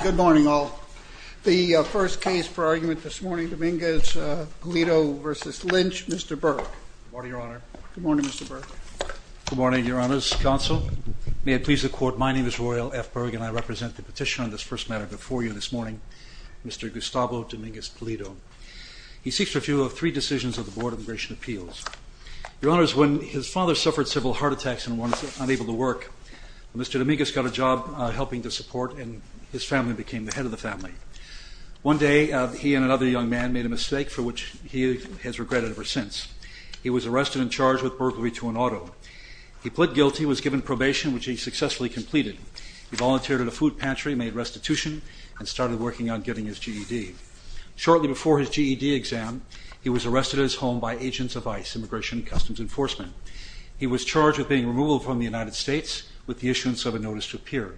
Good morning, all. The first case for argument this morning, Dominguez-Pulido v. Lynch, Mr. Berg. Good morning, Your Honor. Good morning, Mr. Berg. Good morning, Your Honors. Counsel, may it please the Court, my name is Roy L. F. Berg, and I represent the petitioner on this first matter before you this morning, Mr. Gustavo Dominguez-Pulido. He seeks review of three decisions of the Board of Immigration Appeals. Your Honors, when his father suffered several heart attacks and was unable to work, Mr. Dominguez got a job helping to support, and his family became the head of the family. One day, he and another young man made a mistake for which he has regretted ever since. He was arrested and charged with burglary to an auto. He pled guilty and was given probation, which he successfully completed. He volunteered at a food pantry, made restitution, and started working on getting his GED. Shortly before his GED exam, he was arrested at his home by agents of ICE, Immigration and Customs Enforcement. He was charged with being removed from the United States with the issuance of a notice to appear.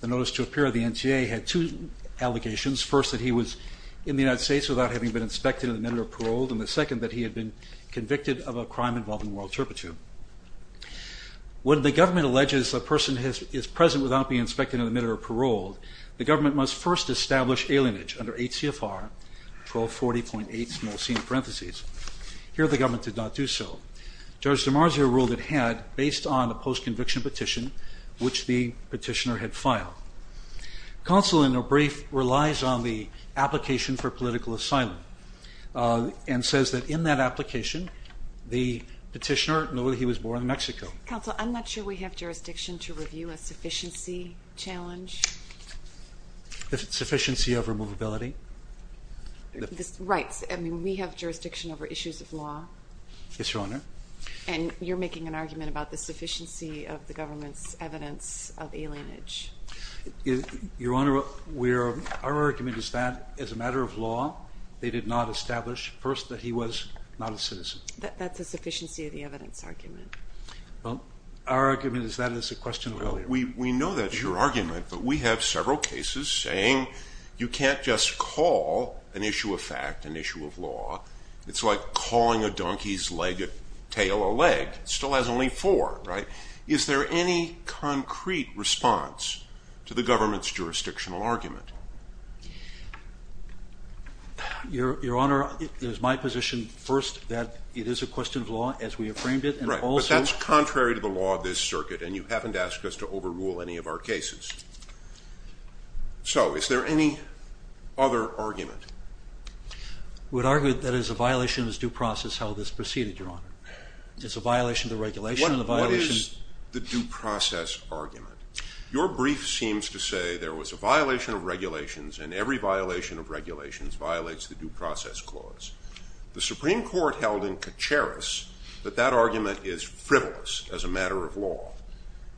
The notice to appear of the NTA had two allegations, first that he was in the United States without having been inspected in the manner of parole, and the second that he had been convicted of a crime involving moral turpitude. When the government alleges a person is present without being inspected in the manner of parole, the government must first establish alienage under H.C.F.R. 1240.8. Here, the government did not do so. Judge DiMarzio ruled it had, based on a post-conviction petition, which the petitioner had filed. Counsel, in a brief, relies on the application for political asylum, and says that in that application, the petitioner knew that he was born in Mexico. Counsel, I'm not sure we have jurisdiction to review a sufficiency challenge. The sufficiency of removability? Right. I mean, we have jurisdiction over issues of law. Yes, Your Honor. And you're making an argument about the sufficiency of the government's evidence of alienage. Your Honor, our argument is that, as a matter of law, they did not establish, first, that he was not a citizen. That's a sufficiency of the evidence argument. Well, our argument is that is a question of earlier. We know that's your argument, but we have several cases saying you can't just call an issue a fact, an issue of law. It's like calling a donkey's leg, a tail, a leg. It still has only four, right? Is there any concrete response to the government's jurisdictional argument? Your Honor, it is my position, first, that it is a question of law, as we have framed it, and also— Right, but that's contrary to the law of this circuit, and you haven't asked us to overrule any of our cases. So, is there any other argument? We'd argue that it is a violation of this due process, how this proceeded, Your Honor. It's a violation of the regulation and a violation— What is the due process argument? Your brief seems to say there was a violation of regulations, and every violation of regulations violates the due process clause. The Supreme Court held in Kacharis that that argument is frivolous, as a matter of law.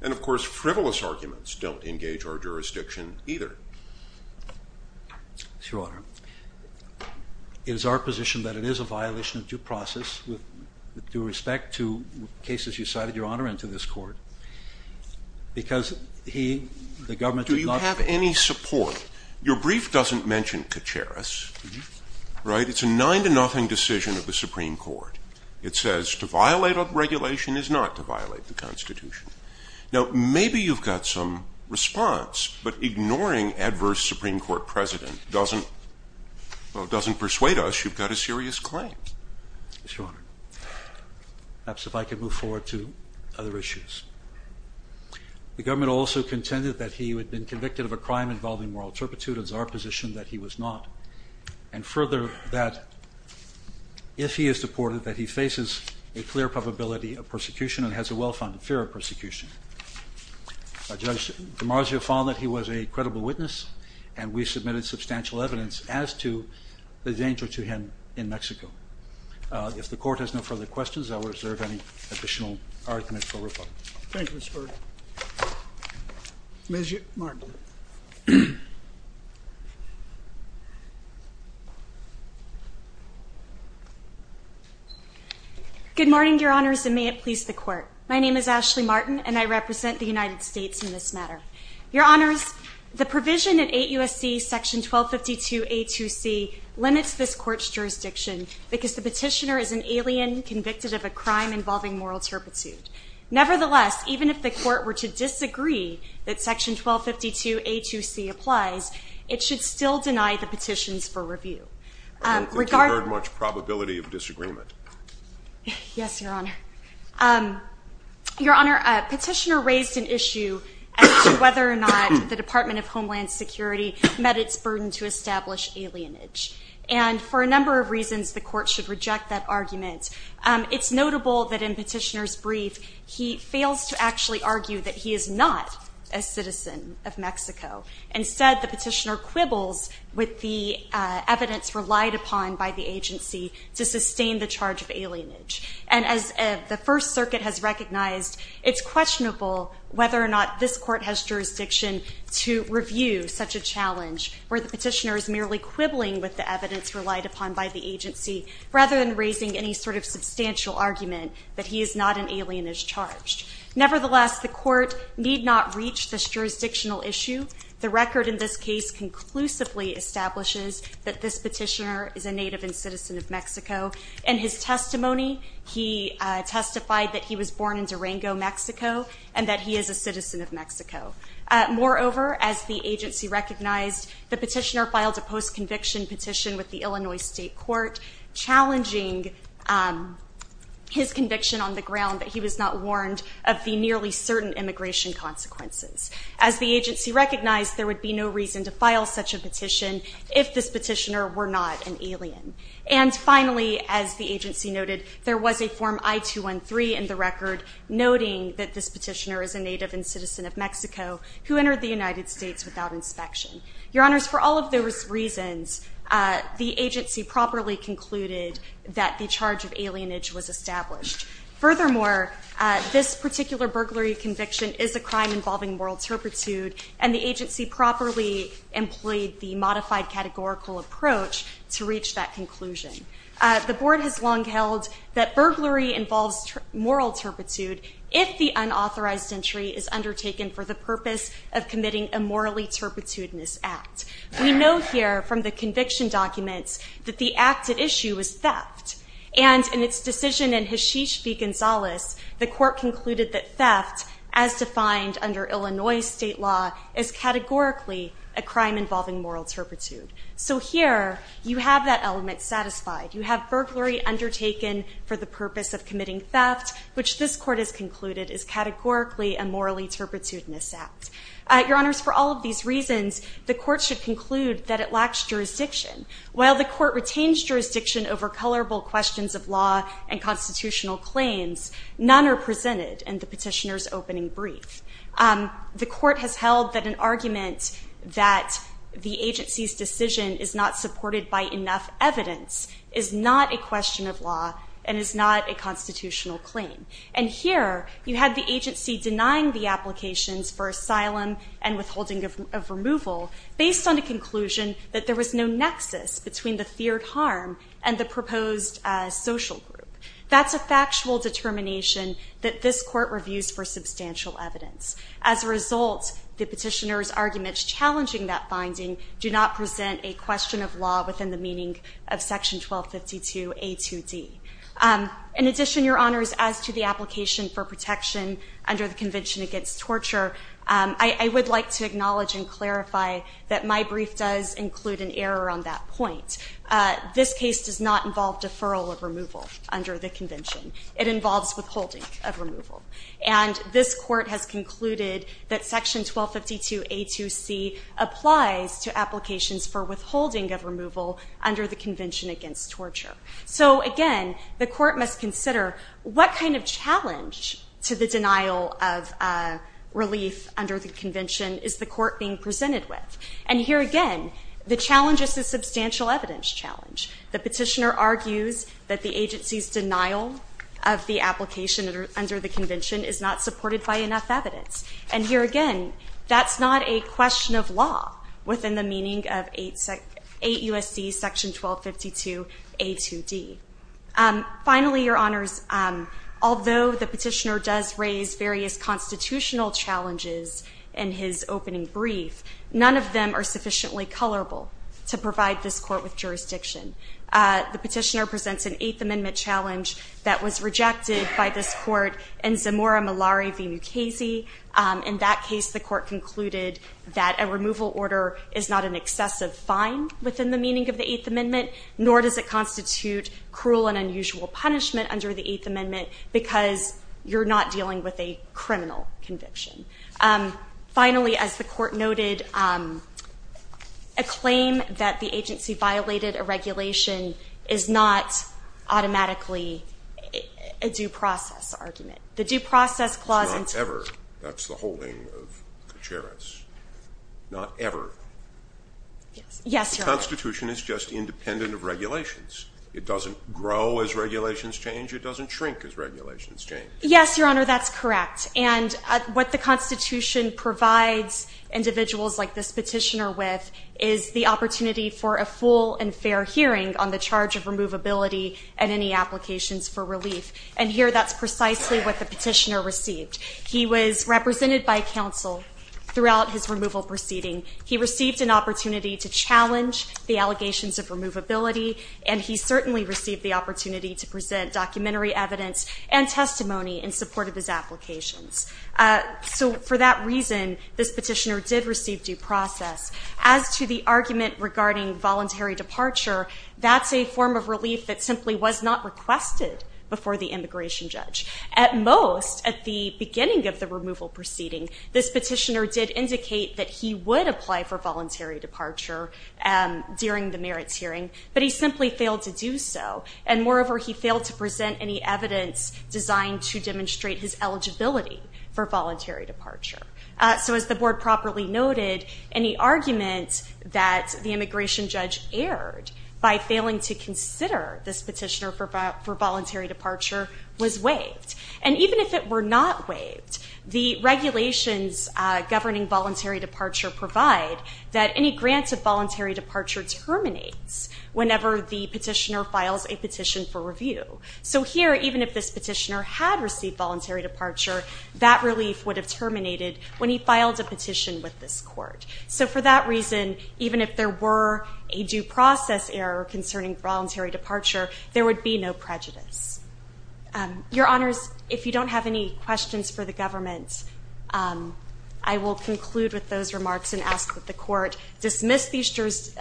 And, of course, frivolous arguments don't engage our jurisdiction, either. Yes, Your Honor. It is our position that it is a violation of due process, with due respect to cases you cited, Your Honor, and to this Court, because he—the government did not— Do you have any support—your brief doesn't mention Kacharis, right? It's a nine-to-nothing decision of the Supreme Court. It says to violate a regulation is not to violate the Constitution. Now, maybe you've got some response, but ignoring adverse Supreme Court precedent doesn't—well, doesn't persuade us you've got a serious claim. Yes, Your Honor. Perhaps if I could move forward to other issues. The government also contended that he had been convicted of a crime involving moral turpitude. It's our position that he was not. And further, that if he is deported, that he faces a clear probability of persecution and has a well-founded fear of persecution. Judge DiMarzio found that he was a credible witness, and we submitted substantial evidence as to the danger to him in Mexico. If the Court has no further questions, I will reserve any additional argument for rebuttal. Thank you, Mr. Berger. Ms. Martin. Good morning, Your Honors, and may it please the Court. My name is Ashley Martin, and I represent the United States in this matter. Your Honors, the provision in 8 U.S.C. § 1252a2c limits this Court's jurisdiction because the petitioner is an alien convicted of a crime involving moral turpitude. Nevertheless, even if the Court were to disagree that § 1252a2c applies, it should still deny the petitions for review. I don't think you've heard much probability of disagreement. Yes, Your Honor. Your Honor, a petitioner raised an issue as to whether or not the Department of Homeland Security met its burden to establish alienage. And for a number of reasons, the Court should reject that argument. It's notable that in petitioner's brief, he fails to actually argue that he is not a citizen of Mexico. Instead, the petitioner quibbles with the evidence relied upon by the agency to sustain the charge of alienage. And as the First Circuit has recognized, it's questionable whether or not this Court has jurisdiction to review such a challenge where the petitioner is merely quibbling with the evidence relied upon by the agency, rather than raising any sort of substantial argument that he is not an alien as charged. Nevertheless, the Court need not reach this jurisdictional issue. The record in this case conclusively establishes that this petitioner is a native and citizen of Mexico. In his testimony, he testified that he was born in Durango, Mexico, and that he is a citizen of Mexico. Moreover, as the agency recognized, the petitioner filed a post-conviction petition with the Illinois State Court, challenging his conviction on the ground that he was not warned of the nearly certain immigration consequences. As the agency recognized, there would be no reason to file such a petition if this petitioner were not an alien. And finally, as the agency noted, there was a Form I-213 in the record, noting that this petitioner is a native and citizen of Mexico who entered the United States without inspection. Your Honors, for all of those reasons, the agency properly concluded that the charge of alienage was established. Furthermore, this particular burglary conviction is a crime involving moral turpitude, and the agency properly employed the modified categorical approach to reach that conclusion. The Board has long held that burglary involves moral turpitude if the unauthorized entry is undertaken for the purpose of committing a morally turpitudinous act. We know here from the conviction documents that the act at issue was theft, and in its decision in Hashish v. Gonzalez, the Court concluded that theft, as defined under Illinois state law, is categorically a crime involving moral turpitude. So here, you have that element satisfied. You have burglary undertaken for the purpose of committing theft, which this Court has concluded is categorically a morally turpitudinous act. Your Honors, for all of these reasons, the Court should conclude that it lacks jurisdiction. While the Court retains jurisdiction over colorable questions of law and constitutional claims, none are presented in the petitioner's opening brief. The Court has held that an argument that the agency's decision is not supported by enough evidence is not a question of law and is not a constitutional claim. And here, you had the agency denying the applications for asylum and withholding of removal based on the conclusion that there was no nexus between the feared harm and the proposed social group. That's a factual determination that this Court reviews for substantial evidence. As a result, the petitioner's arguments challenging that finding do not present a question of law within the meaning of Section 1252A2D. In addition, Your Honors, as to the application for protection under the Convention Against Torture, I would like to acknowledge and clarify that my brief does include an error on that point. This case does not involve deferral of removal under the Convention. It involves withholding of removal. And this Court has concluded that Section 1252A2C applies to applications for withholding of removal under the Convention Against Torture. So again, the Court must consider what kind of challenge to the denial of relief under the Convention is the Court being presented with. And here again, the challenge is a substantial evidence challenge. The petitioner argues that the agency's denial of the application under the Convention is not supported by enough evidence. And here again, that's not a question of law within the meaning of 8 U.S.C. Section 1252A2D. Finally, Your Honors, although the petitioner does raise various constitutional challenges in his opening brief, none of them are sufficiently colorable to provide this Court with jurisdiction. The petitioner presents an Eighth Amendment challenge that was rejected by this Court in Zamora Malari v. Mukasey. In that case, the Court concluded that a removal order is not an excessive fine within the meaning of the Eighth Amendment, nor does it constitute cruel and unusual punishment under the Eighth Amendment because you're not dealing with a criminal conviction. Finally, as the Court noted, a claim that the agency violated a regulation is not automatically a due process argument. The Due Process Clause in two of the Eighth Amendment. Scalia. It's not ever. That's the holding of Katsharis. Not ever. Yes, Your Honor. The Constitution is just independent of regulations. It doesn't grow as regulations change. It doesn't shrink as regulations change. Yes, Your Honor, that's correct. And what the Constitution provides individuals like this petitioner with is the opportunity for a full and fair hearing on the charge of removability and any applications for relief. And here that's precisely what the petitioner received. He was represented by counsel throughout his removal proceeding. He received an opportunity to challenge the allegations of removability, and he certainly received the opportunity to present documentary evidence and testimony in support of his applications. So for that reason, this petitioner did receive due process. As to the argument regarding voluntary departure, that's a form of relief that simply was not requested before the immigration judge. At most, at the beginning of the removal proceeding, this petitioner did indicate that he would apply for voluntary departure during the merits hearing, but he simply failed to do so, and moreover, he failed to present any evidence designed to demonstrate his eligibility for voluntary departure. So as the board properly noted, any argument that the immigration judge aired by failing to consider this petitioner for voluntary departure was waived. And even if it were not waived, the regulations governing voluntary departure provide that any grant of voluntary departure terminates whenever the petitioner files a petition for review. So here, even if this petitioner had received voluntary departure, that relief would have terminated when he filed a petition with this court. So for that reason, even if there were a due process error concerning voluntary departure, there would be no prejudice. Your Honors, if you don't have any questions for the government, I will conclude with those remarks and ask that the court dismiss these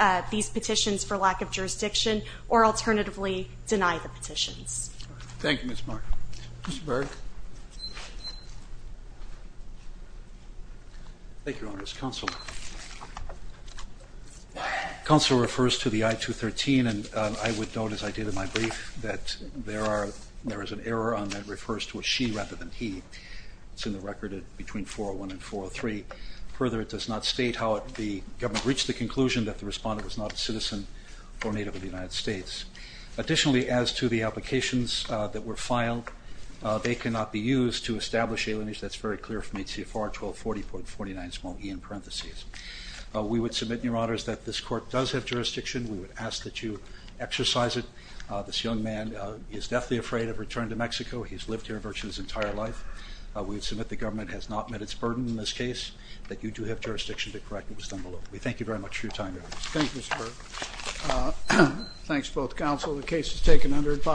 petitions for lack of jurisdiction or alternatively deny the petitions. Thank you, Ms. Markham. Mr. Barrett. Thank you, Your Honors. Counsel. Counsel refers to the I-213, and I would note, as I did in my brief, that there is an error on that refers to a she rather than he. It's in the record between 401 and 403. Further, it does not state how the government reached the conclusion that the respondent was not a citizen or native of the United States. Additionally, as to the applications that were filed, they cannot be used to establish alienation. That's very clear from ACFR 1240.49, small e in parentheses. We would submit, Your Honors, that this court does have jurisdiction. We would ask that you exercise it. This young man is deathly afraid of returning to Mexico. He's lived here virtually his entire life. We would submit the government has not met its burden in this case, that you do have jurisdiction to correct what was done below. We thank you very much for your time, Your Honors. Thank you, Mr. Barrett. Thanks to both counsel. The case is taken under advisory.